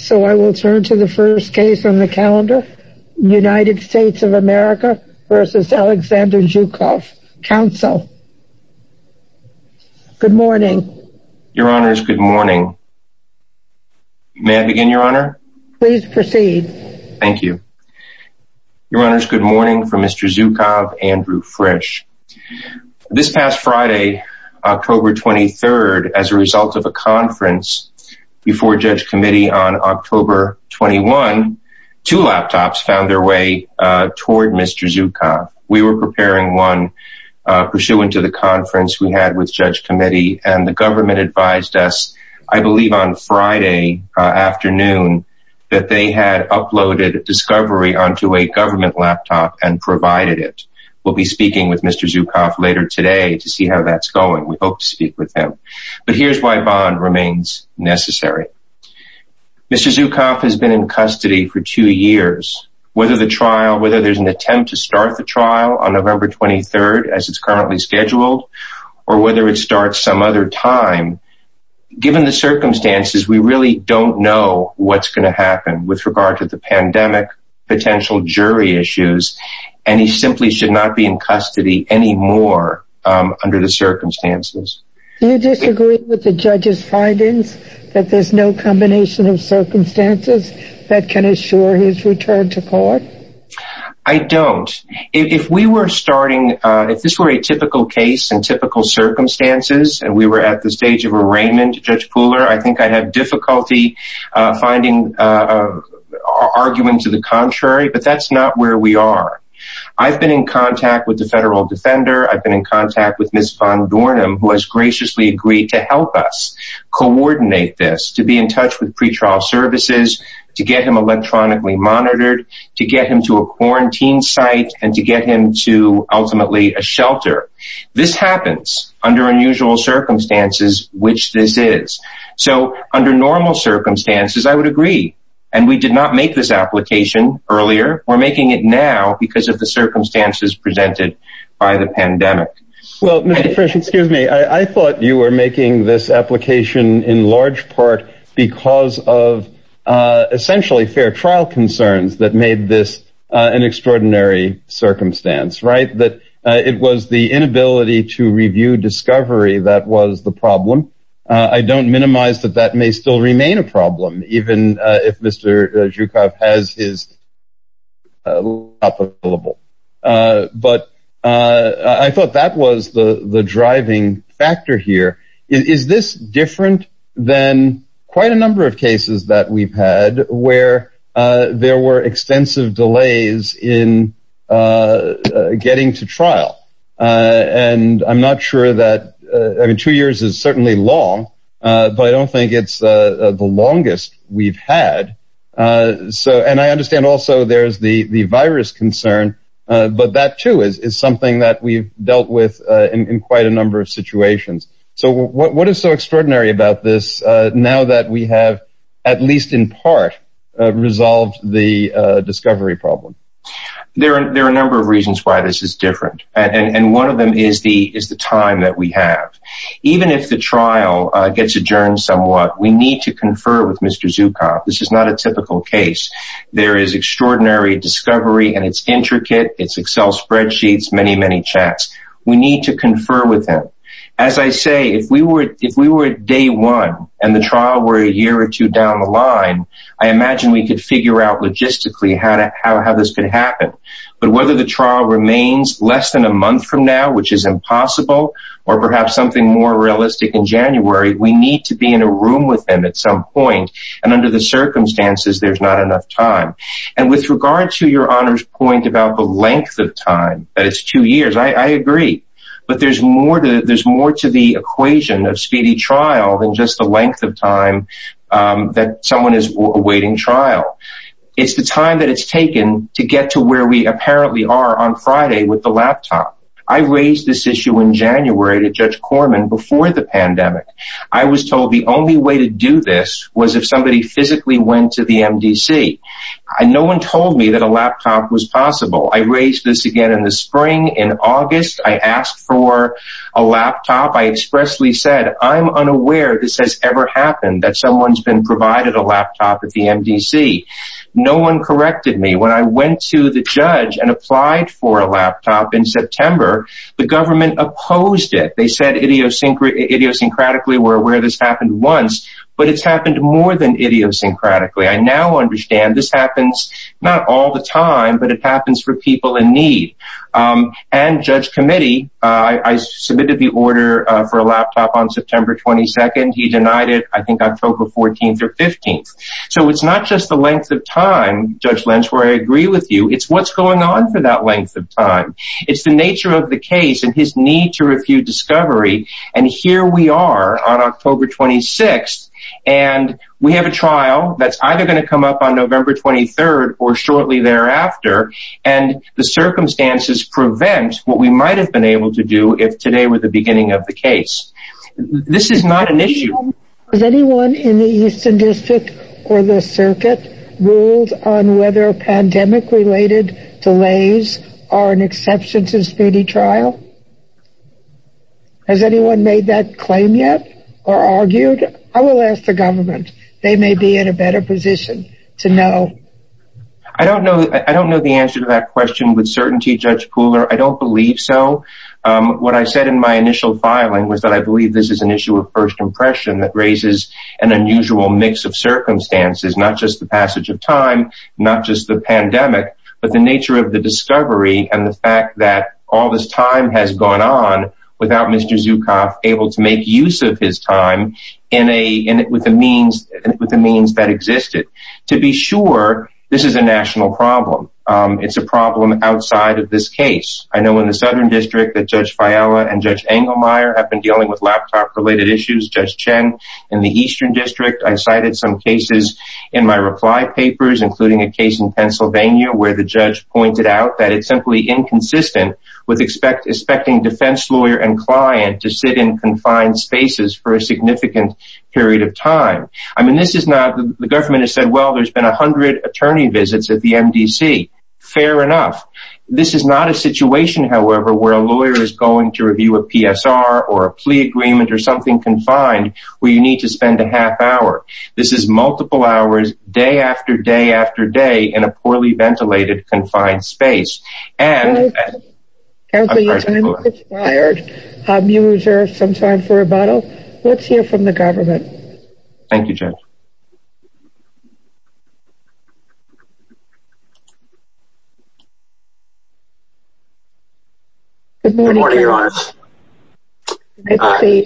So I will turn to the first case on the calendar, United States of America versus Alexander Zhukov. Council. Good morning. Your Honor is good morning. May I begin, Your Honor? Please proceed. Thank you. Your Honor is good morning from Mr. Zhukov, Andrew Frisch. This October 21, two laptops found their way toward Mr. Zhukov. We were preparing one pursuant to the conference we had with Judge Committee and the government advised us, I believe on Friday afternoon, that they had uploaded a discovery onto a government laptop and provided it. We'll be speaking with Mr. Zhukov later today to see how that's going. We hope to Zhukov has been in custody for two years, whether the trial whether there's an attempt to start the trial on November 23, as it's currently scheduled, or whether it starts some other time. Given the circumstances, we really don't know what's going to happen with regard to the pandemic, potential jury issues, and he simply should not be in custody anymore. Under the circumstances, you disagree with the judge's findings that there's no combination of circumstances that can assure his return to court. I don't. If we were starting, if this were a typical case and typical circumstances, and we were at the stage of arraignment, Judge Pooler, I think I'd have difficulty finding argument to the contrary. But that's not where we are. I've been in contact with the federal defender, I've been in contact with Ms. Von Dornum, who has graciously agreed to help us coordinate this to be in touch with pretrial services, to get him electronically monitored, to get him to a quarantine site and to get him to ultimately a shelter. This happens under unusual circumstances, which this is. So under normal circumstances, I would agree. And we did not make this application earlier. We're making it now because of the circumstances presented by the pandemic. Well, Mr. Frisch, excuse me, I thought you were making this application in large part because of essentially fair trial concerns that made this an extraordinary circumstance, right? That it was the inability to review discovery that was the problem. I don't minimize that that may still remain a problem, even if Mr. Zhukov has his law applicable. But I thought that was the the driving factor here. Is this different than quite a number of cases that we've had where there were extensive delays in getting to trial? And I'm not sure that, I mean, two years is certainly long, but I don't think it's the longest we've had. And I understand also there's the virus concern, but that too is something that we've dealt with in quite a number of situations. So what is so extraordinary about this now that we have, at least in part, resolved the discovery problem? There are a number of reasons why this is different, and one of them is the time that we have. Even if the trial gets adjourned somewhat, we need to confer with Mr. Zhukov. This is not a typical case. There is extraordinary discovery, and it's intricate. It's Excel spreadsheets, many, many checks. We need to confer with him. As I say, if we were if we were day one and the trial were a year or two down the line, I imagine we could figure out logistically how this could happen. But whether the trial remains less than a month from now, which is impossible, or perhaps something more realistic in January, we need to be in a room with him at some point. And under the circumstances, there's not enough time. And with regard to your honor's point about the length of time, that it's two years, I agree. But there's more to the equation of speedy trial than just the length of time that someone is awaiting trial. It's the time that it's taken to get to where we apparently are on Friday with the laptop. I raised this issue in January to Judge Corman before the pandemic. I was told the only way to do this was if somebody physically went to the MDC. No one told me that a laptop was possible. I raised this again in the spring. In August, I asked for a laptop. I expressly said, I'm unaware this has ever happened that someone's been provided a laptop at the MDC. No one corrected me when I went to the judge and applied for a laptop in September. The government opposed it. They said idiosyncratic idiosyncratically we're aware this happened once, but it's happened more than idiosyncratically. I now understand this happens not all the time, but it happens for people in need. And Judge Committee, I submitted the order for a laptop on September 22nd. He denied it, I think, October 14th or 15th. So it's not just the length of time, Judge Lynch, where I agree with you. It's what's going on for that length of time. It's the nature of the case and his need to refute discovery. And here we are on October 26th. And we have a trial that's either going to come up on November 23rd or shortly thereafter. And the circumstances prevent what we might have been able to do if today were the beginning of the case. This is not an issue. Has anyone in the Eastern District or the circuit ruled on whether pandemic related delays are an exception to speedy trial? Has anyone made that claim yet? Or argued? I will ask the government, they may be in a better position to know. I don't know. I don't know the answer to that question with certainty, Judge Pooler. I don't believe so. What I said in my initial filing was that I believe this is an issue of first impression that raises an unusual mix of circumstances, not just the passage of time, not just the pandemic, but the nature of the discovery and the fact that all this time has gone on without Mr. Zucoff able to make use of his time with the means that existed. To be sure, this is a national problem. It's a problem outside of this case. I know in the Southern District that Judge Fiala and Judge Engelmeyer have been dealing with laptop related issues. Judge Chen in the Eastern District, I cited some cases in my reply papers, including a case in client to sit in confined spaces for a significant period of time. I mean, this is not the government has said, well, there's been 100 attorney visits at the MDC. Fair enough. This is not a situation, however, where a lawyer is going to review a PSR or a plea agreement or something confined, where you need to spend a half hour. This is multiple hours, day after day after day in a wired user sometime for rebuttal. Let's hear from the government. Thank you. Good morning, Your Honor. I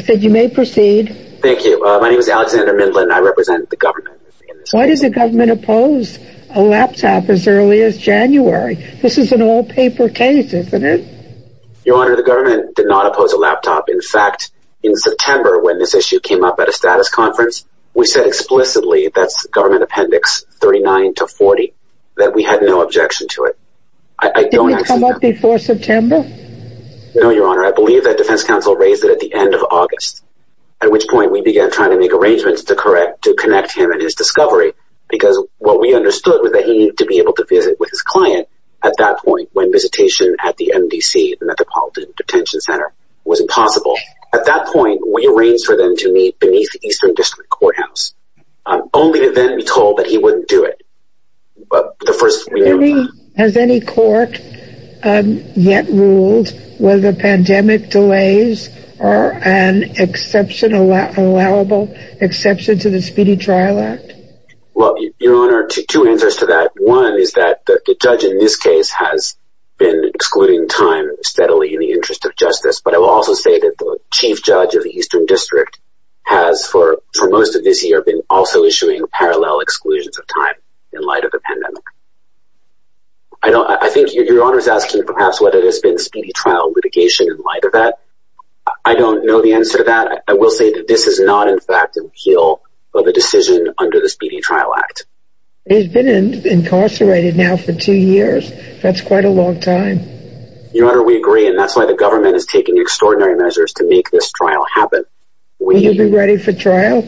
said you may proceed. Thank you. My name is Alexander Midland. I represent the government. Why does the government oppose a laptop as early as January? This is an all paper case, isn't it? Your Honor, the government did not oppose a laptop. In fact, in September, when this issue came up at a status conference, we said explicitly that's government appendix 39 to 40, that we had no objection to it. I don't come up before September. No, Your Honor, I believe that defense counsel raised it at the end of August, at which point we began trying to make arrangements to connect him and his discovery. Because what we understood was that he needed to be able to visit with his client at that point when visitation at the MDC, the Metropolitan Detention Center, was impossible. At that point, we arranged for them to meet beneath the Eastern District Courthouse, only to then be told that he wouldn't do it. Has any court yet ruled whether pandemic delays are an exception, allowable exception to the Speedy Trial Act? Well, Your Honor, two answers to that. One is that the judge in this case has been excluding time steadily in the interest of justice. But I will also say that the chief judge of the Eastern District has, for most of this year, been also issuing parallel exclusions of time in light of the pandemic. I think Your Honor is asking perhaps whether there's been Speedy Trial litigation in light of that. I don't know the answer to that. I will say that this is not, in fact, an appeal of a decision under the Speedy Trial Act. He's been incarcerated now for two years. That's quite a long time. Your Honor, we agree. And that's why the government is taking extraordinary measures to make this trial happen. Will you be ready for trial?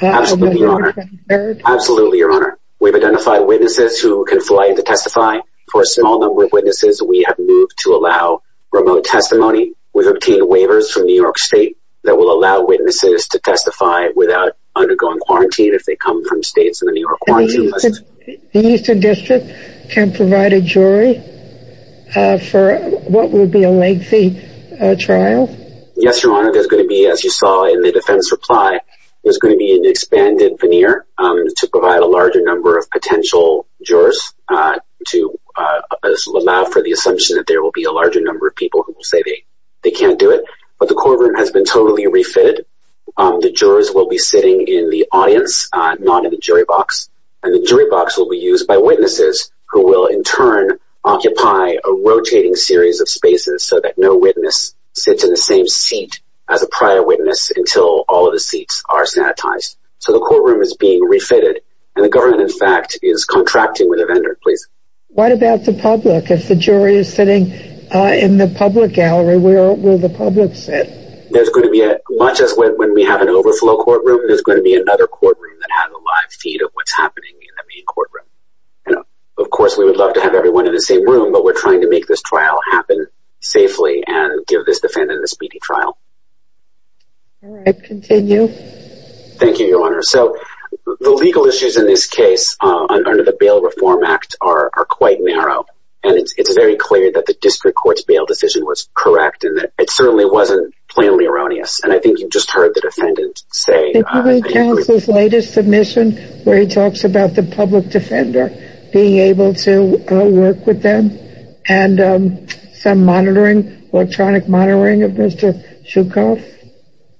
Absolutely, Your Honor. Absolutely, Your Honor. We've identified witnesses who can fly in to testify. For a small number of witnesses, we have moved to allow remote testimony. We've obtained waivers from New York State that will allow witnesses to testify without undergoing quarantine if they come from states in the New York quarantine list. The Eastern District can provide a jury for what would be a lengthy trial? Yes, Your Honor. There's going to be, as you saw in the defense reply, there's going to be an expanded veneer to provide a larger number of potential jurors to allow for the assumption that there will be a larger number of people who will say they can't do it. But the courtroom has been totally refitted. The jurors will be sitting in the audience, not in the jury box. And the jury box will be used by witnesses who will, in turn, occupy a rotating series of spaces so that no witness sits in the same seat as a prior witness until all of the seats are sanitized. So the courtroom is being refitted, and the government, in fact, is contracting with a vendor. Please. What about the public? If the jury is sitting in the public gallery, where will the public sit? There's going to be, much as when we have an overflow courtroom, there's going to be another courtroom that has a live feed of what's happening in the main courtroom. And of course, we would love to have everyone in the same room, but we're All right, continue. Thank you, Your Honor. So the legal issues in this case, under the Bail Reform Act, are quite narrow. And it's very clear that the district court's bail decision was correct, and that it certainly wasn't plainly erroneous. And I think you just heard the defendant say... The jury counsel's latest submission, where he talks about the public defender being able to work with them, and some monitoring, electronic monitoring of Mr. Graff.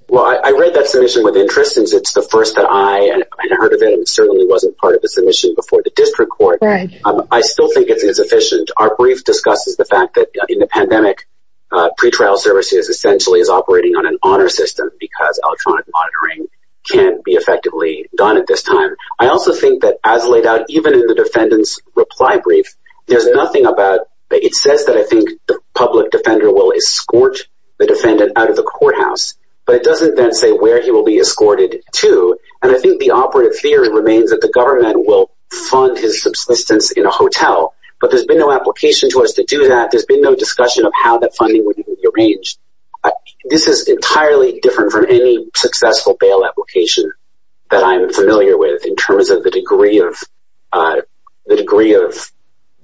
Well, I read that submission with interest, since it's the first that I heard of it, and it certainly wasn't part of the submission before the district court. I still think it's insufficient. Our brief discusses the fact that in the pandemic, pretrial services essentially is operating on an honor system, because electronic monitoring can't be effectively done at this time. I also think that as laid out, even in the defendant's reply brief, there's nothing about... It says that I think the public defender will escort the defendant out of the courthouse, but it doesn't then say where he will be escorted to. And I think the operative theory remains that the government will fund his subsistence in a hotel. But there's been no application to us to do that. There's been no discussion of how that funding would be arranged. This is entirely different from any successful bail application that I'm familiar with, in terms of the degree of...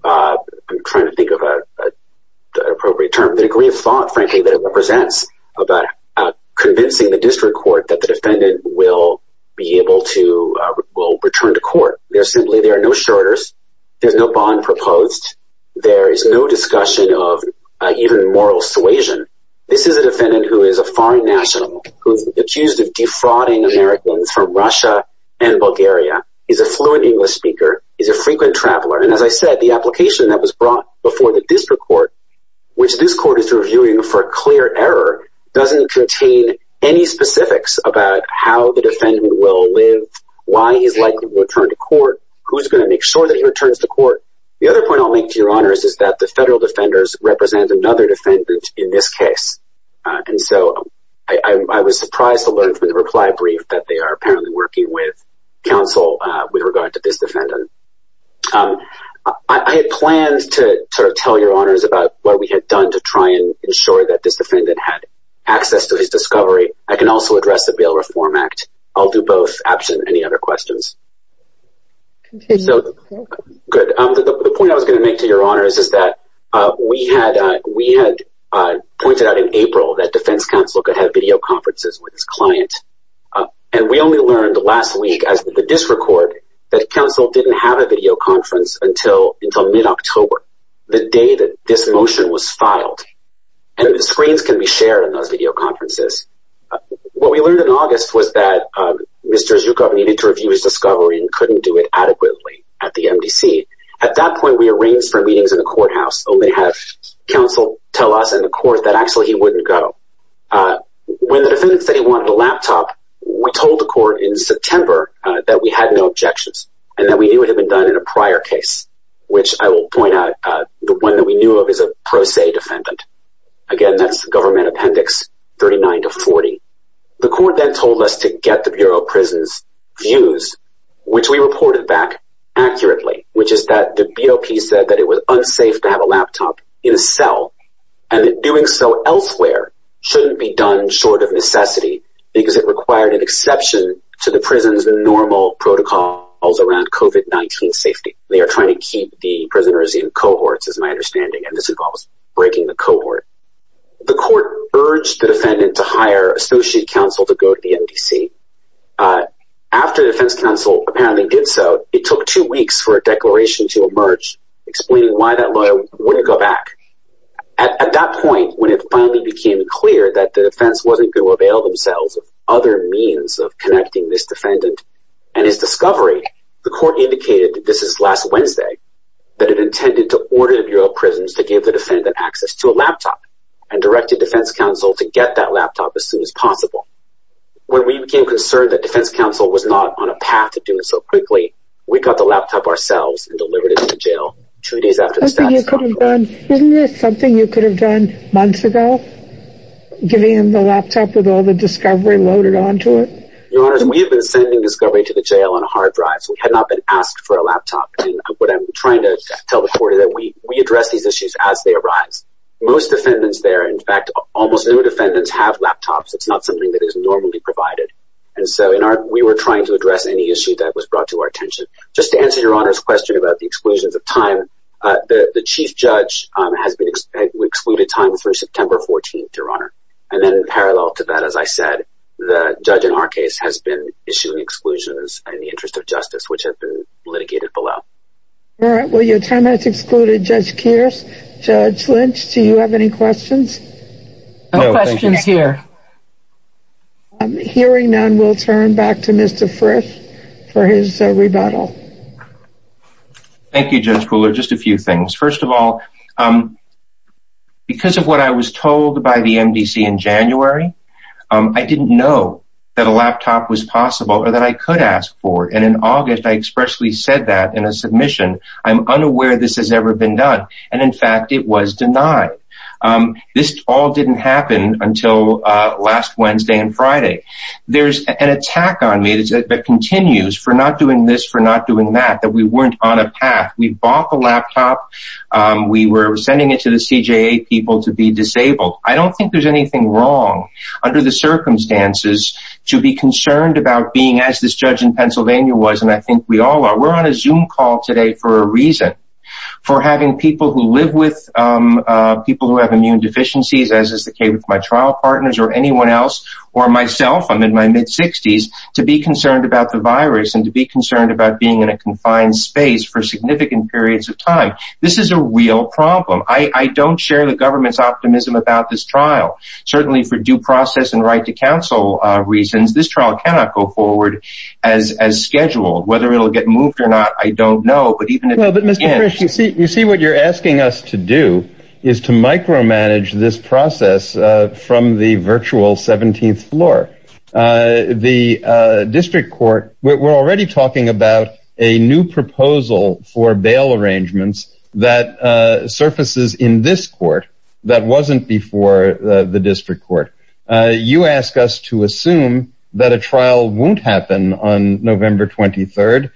I'm trying to think of an appropriate term. The degree of thought, frankly, that it represents about convincing the district court that the defendant will be able to return to court. There's simply... There are no shorters. There's no bond proposed. There is no discussion of even moral suasion. This is a defendant who is a foreign national, who's accused of defrauding Americans from Russia and Bulgaria. He's a fluent English speaker. He's a frequent traveler. And as I said, the application that was brought before the district court, which this court is reviewing for a clear error, doesn't contain any specifics about how the defendant will live, why he's likely to return to court, who's going to make sure that he returns to court. The other point I'll make to your honors is that the federal defenders represent another defendant in this case. And so I was surprised to learn from the reply brief that they are apparently working with counsel with regard to this defendant. I had planned to sort of tell your honors about what we had done to try and ensure that this defendant had access to his discovery. I can also address the Bail Reform Act. I'll do both, absent any other questions. So, good. The point I was going to make to your honors is that we had pointed out in April that defense counsel could have video conferences with his client. And we only learned last week as the district court that counsel didn't have a video conference until mid-October, the day that this motion was filed. And the screens can be shared in those video conferences. What we learned in August was that Mr. Zhukov needed to review his discovery and couldn't do it adequately at the MDC. At that point, we arranged for meetings in the courthouse, only to have counsel tell us and the court that actually he wouldn't go. When the defendant said he wanted a laptop, we told the court in September that we had no objections and that we knew it had been done in a prior case, which I will point out the one that we knew of is a pro se defendant. Again, that's the government appendix 39 to 40. The court then told us to get the Bureau of Prisons' views, which we reported back accurately, which is that the BOP said that it was unsafe to have a laptop in a cell and doing so elsewhere shouldn't be done short of necessity because it required an exception to the prison's normal protocols around COVID-19 safety. They are trying to keep the prisoners in cohorts, as my understanding, and this involves breaking the cohort. The court urged the defendant to hire associate counsel to go to the MDC. After the defense counsel apparently did so, it took two weeks for a merge, explaining why that lawyer wouldn't go back. At that point, when it finally became clear that the defense wasn't going to avail themselves of other means of connecting this defendant and his discovery, the court indicated that this is last Wednesday, that it intended to order the Bureau of Prisons to give the defendant access to a laptop and directed defense counsel to get that laptop as soon as possible. When we became concerned that defense counsel was not on a jail two days after the status quo... Isn't there something you could have done months ago, giving him the laptop with all the discovery loaded onto it? Your Honor, we have been sending discovery to the jail on hard drives. We had not been asked for a laptop. What I'm trying to tell the court is that we address these issues as they arise. Most defendants there, in fact, almost no defendants have laptops. It's not something that is normally provided, and so we were trying to address any issue that was brought to our attention. Just to answer Your Honor's question about the exclusions of time, the chief judge has excluded time through September 14th, Your Honor. And then parallel to that, as I said, the judge in our case has been issuing exclusions in the interest of justice, which have been litigated below. All right. Well, your time has excluded Judge Kearse. Judge Lynch, do you have any questions? No questions here. Hearing none, we'll turn back to Mr. Frisch for his rebuttal. Thank you, Judge Pooler. Just a few things. First of all, because of what I was told by the MDC in January, I didn't know that a laptop was possible or that I could ask for. And in August, I expressly said that in a submission, I'm unaware this has ever been done. And in fact, it was denied. This all didn't happen until last Wednesday and Friday. There's an attack on me that continues for not doing this, for not doing that, that we weren't on a path. We bought the laptop. We were sending it to the CJA people to be disabled. I don't think there's anything wrong under the circumstances to be concerned about being as this judge in Pennsylvania was. And I think we all are. We're on a Zoom call today for a reason. For having people who live with people who have immune deficiencies, as is the case with my trial partners or anyone else or myself, I'm in my mid-60s, to be concerned about the virus and to be concerned about being in a confined space for significant periods of time. This is a real problem. I don't share the government's optimism about this trial. Certainly for due process and right to counsel reasons, this trial cannot go forward as scheduled. Whether it'll get moved or not, I don't know. But even if it can... Well, but Mr. Frisch, you see what you're asking us to do is to micromanage this process from the virtual 17th floor. The district court, we're already talking about a new proposal for bail arrangements that surfaces in this court that wasn't before the district court. You ask us to assume that a trial won't happen on November 23rd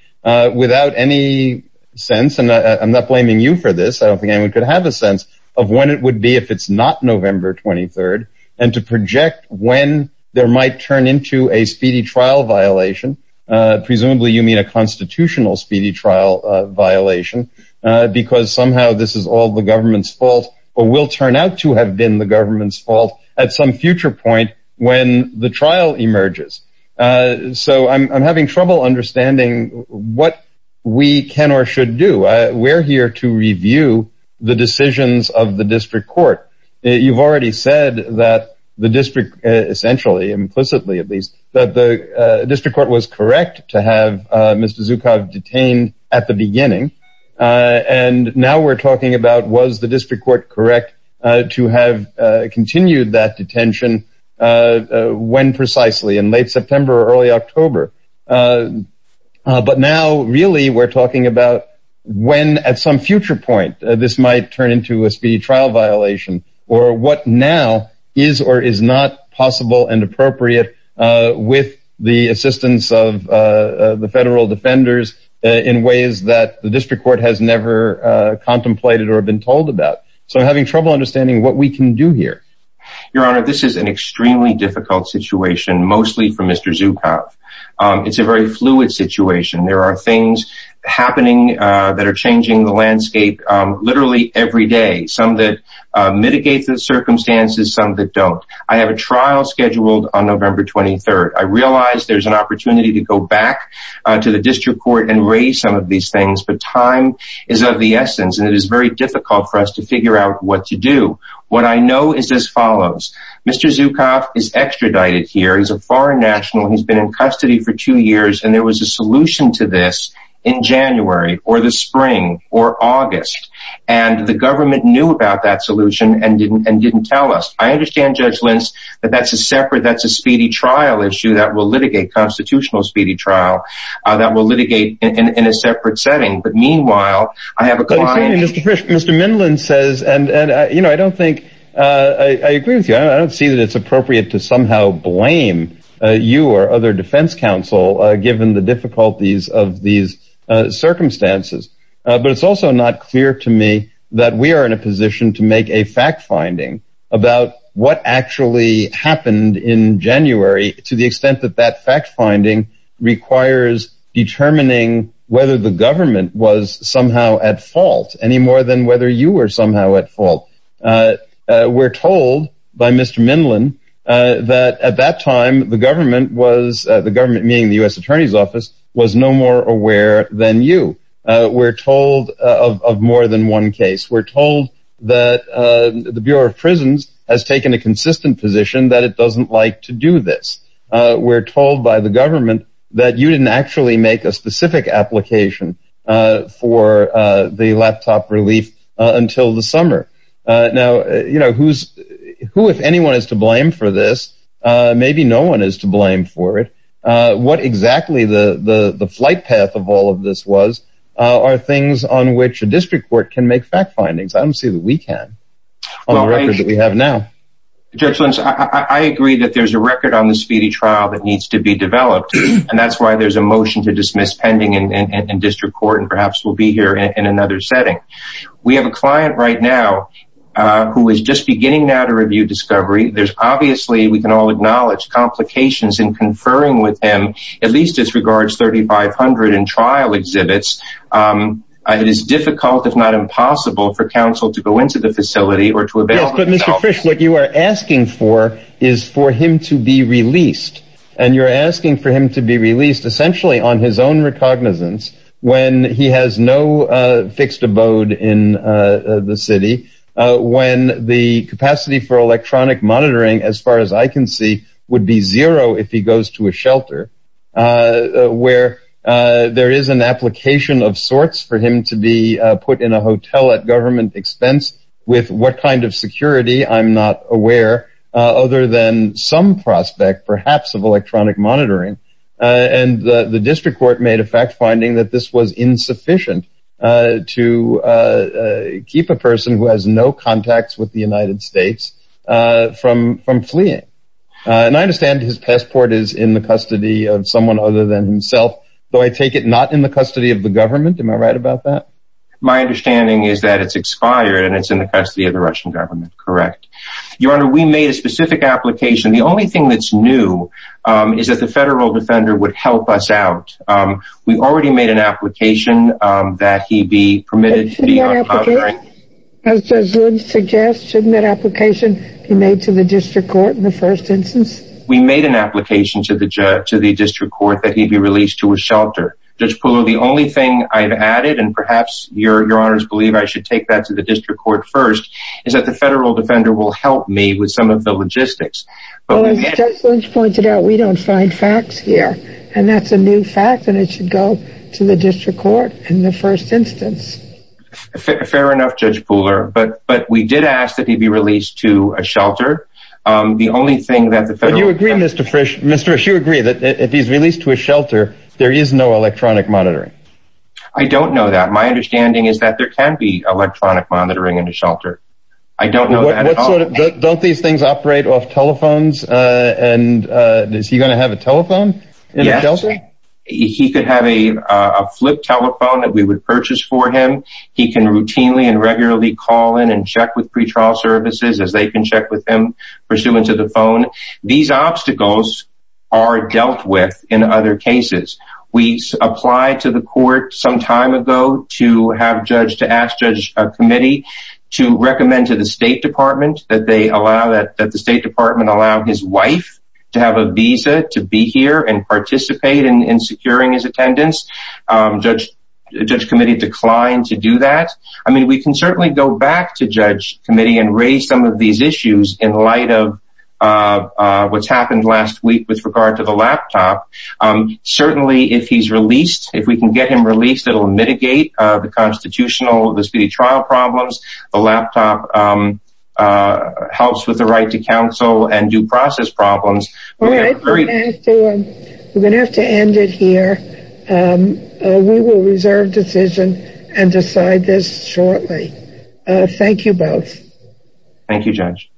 without any sense, and I'm not blaming you for this, I don't think anyone could have a sense of when it would be if it's not November 23rd, and to project when there might turn into a speedy trial violation. Presumably you mean a constitutional speedy trial violation, because somehow this is all the government's fault or will turn out to have been the government's fault at some future point when the trial emerges. So I'm having trouble understanding what we can or should do. We're here to review the decisions of the district court. You've already said that the district, essentially, implicitly at least, that the district court was correct to have Mr. Zhukov detained at the beginning, and now we're talking about was the district court correct to have continued that detention when precisely, in late September or early October, but now really we're talking about when at some future point this might turn into a speedy trial violation, or what now is or is not possible and appropriate with the assistance of the federal defenders in ways that the district court has never contemplated or been told about. So having trouble understanding what we can do here. Your Honor, this is an extremely difficult situation, mostly for Mr. Zhukov. It's a very fluid situation. There are things happening that are changing the landscape literally every day, some that mitigate the circumstances, some that don't. I have a trial scheduled on November 23rd. I realize there's an opportunity to go back to the district court and raise some of these things, but time is of the essence and it is very difficult for us to figure out what to do. What I know is as follows. Mr. Zhukov is extradited here, he's a foreign national, he's been in custody for two years, and there was a solution to this in January or the spring or August, and the government knew about that solution and didn't tell us. I understand, Judge Lentz, that that's a separate, that's a speedy trial issue that will litigate, constitutional speedy trial, that will litigate in a separate setting. But meanwhile, I have a client... I don't think... I agree with you. I don't see that it's appropriate to somehow blame you or other defense counsel, given the difficulties of these circumstances. But it's also not clear to me that we are in a position to make a fact-finding about what actually happened in January, to the extent that that fact-finding requires determining whether the government was somehow at fault, any more than whether you were somehow at fault. We're told by Mr. Minlin that at that time the government was, the government meaning the U.S. Attorney's Office, was no more aware than you. We're told of more than one case. We're told that the Bureau of Prisons has taken a consistent position that it doesn't like to do this. We're told by the the laptop relief until the summer. Now, you know, who's... who, if anyone, is to blame for this? Maybe no one is to blame for it. What exactly the flight path of all of this was are things on which a district court can make fact findings. I don't see that we can, on the record that we have now. Judge Lentz, I agree that there's a record on the speedy trial that needs to be developed, and that's why there's a motion to dismiss pending in district court, and perhaps we'll be here in another setting. We have a client right now who is just beginning now to review discovery. There's obviously, we can all acknowledge, complications in conferring with him, at least as regards 3,500 in trial exhibits. It is difficult, if not impossible, for counsel to go into the facility or to avail themselves. Yes, but Mr. Frisch, what you are asking for is for him to be released, and you're asking for him to be released essentially on his own cognizance, when he has no fixed abode in the city, when the capacity for electronic monitoring, as far as I can see, would be zero if he goes to a shelter, where there is an application of sorts for him to be put in a hotel at government expense, with what kind of security I'm not aware, other than some prospect, perhaps, of electronic monitoring, and the district court made a fact finding that this was insufficient to keep a person who has no contacts with the United States from fleeing, and I understand his passport is in the custody of someone other than himself, though I take it not in the custody of the government. Am I right about that? My understanding is that it's expired, and it's in the custody of the Russian government, correct? Your Honor, we made a specific application. The only thing that's new is that the federal defender would help us out. We already made an application that he'd be permitted to be on top of. As Judge Wood suggests, shouldn't that application be made to the district court in the first instance? We made an application to the district court that he'd be released to a shelter. Judge Pullo, the only thing I've added, and perhaps Your Honor's believe I should take that to the district court first, is that the federal defender will help me with some of the logistics. Well, as Judge Lynch pointed out, we don't find facts here, and that's a new fact, and it should go to the district court in the first instance. Fair enough, Judge Puller, but we did ask that he be released to a shelter. The only thing that the federal... But you agree, Mr. Frisch, Mr. Frisch, you agree that if he's released to a shelter, there is no electronic monitoring. I don't know that. My understanding is that there can be electronic monitoring in a shelter. I don't know that at all. Don't these things operate off telephones, and is he going to have a telephone in a shelter? Yes. He could have a flip telephone that we would purchase for him. He can routinely and regularly call in and check with pretrial services as they can check with him pursuant to the phone. These obstacles are dealt with in other cases. We applied to the court some time ago to ask Judge Committee to recommend to the State Department that the State Department allow his wife to have a visa to be here and participate in securing his attendance. Judge Committee declined to do that. I mean, we can certainly go back to Judge Committee and raise some of these issues in light of what's happened last week with regard to the laptop. Certainly, if he's released, if we can get him released, it'll mitigate the constitutional, the speedy trial problems. The laptop helps with the right to counsel and due process problems. All right. We're going to have to end it here. We will reserve decision and decide this shortly. Thank you both. Thank you, Judge.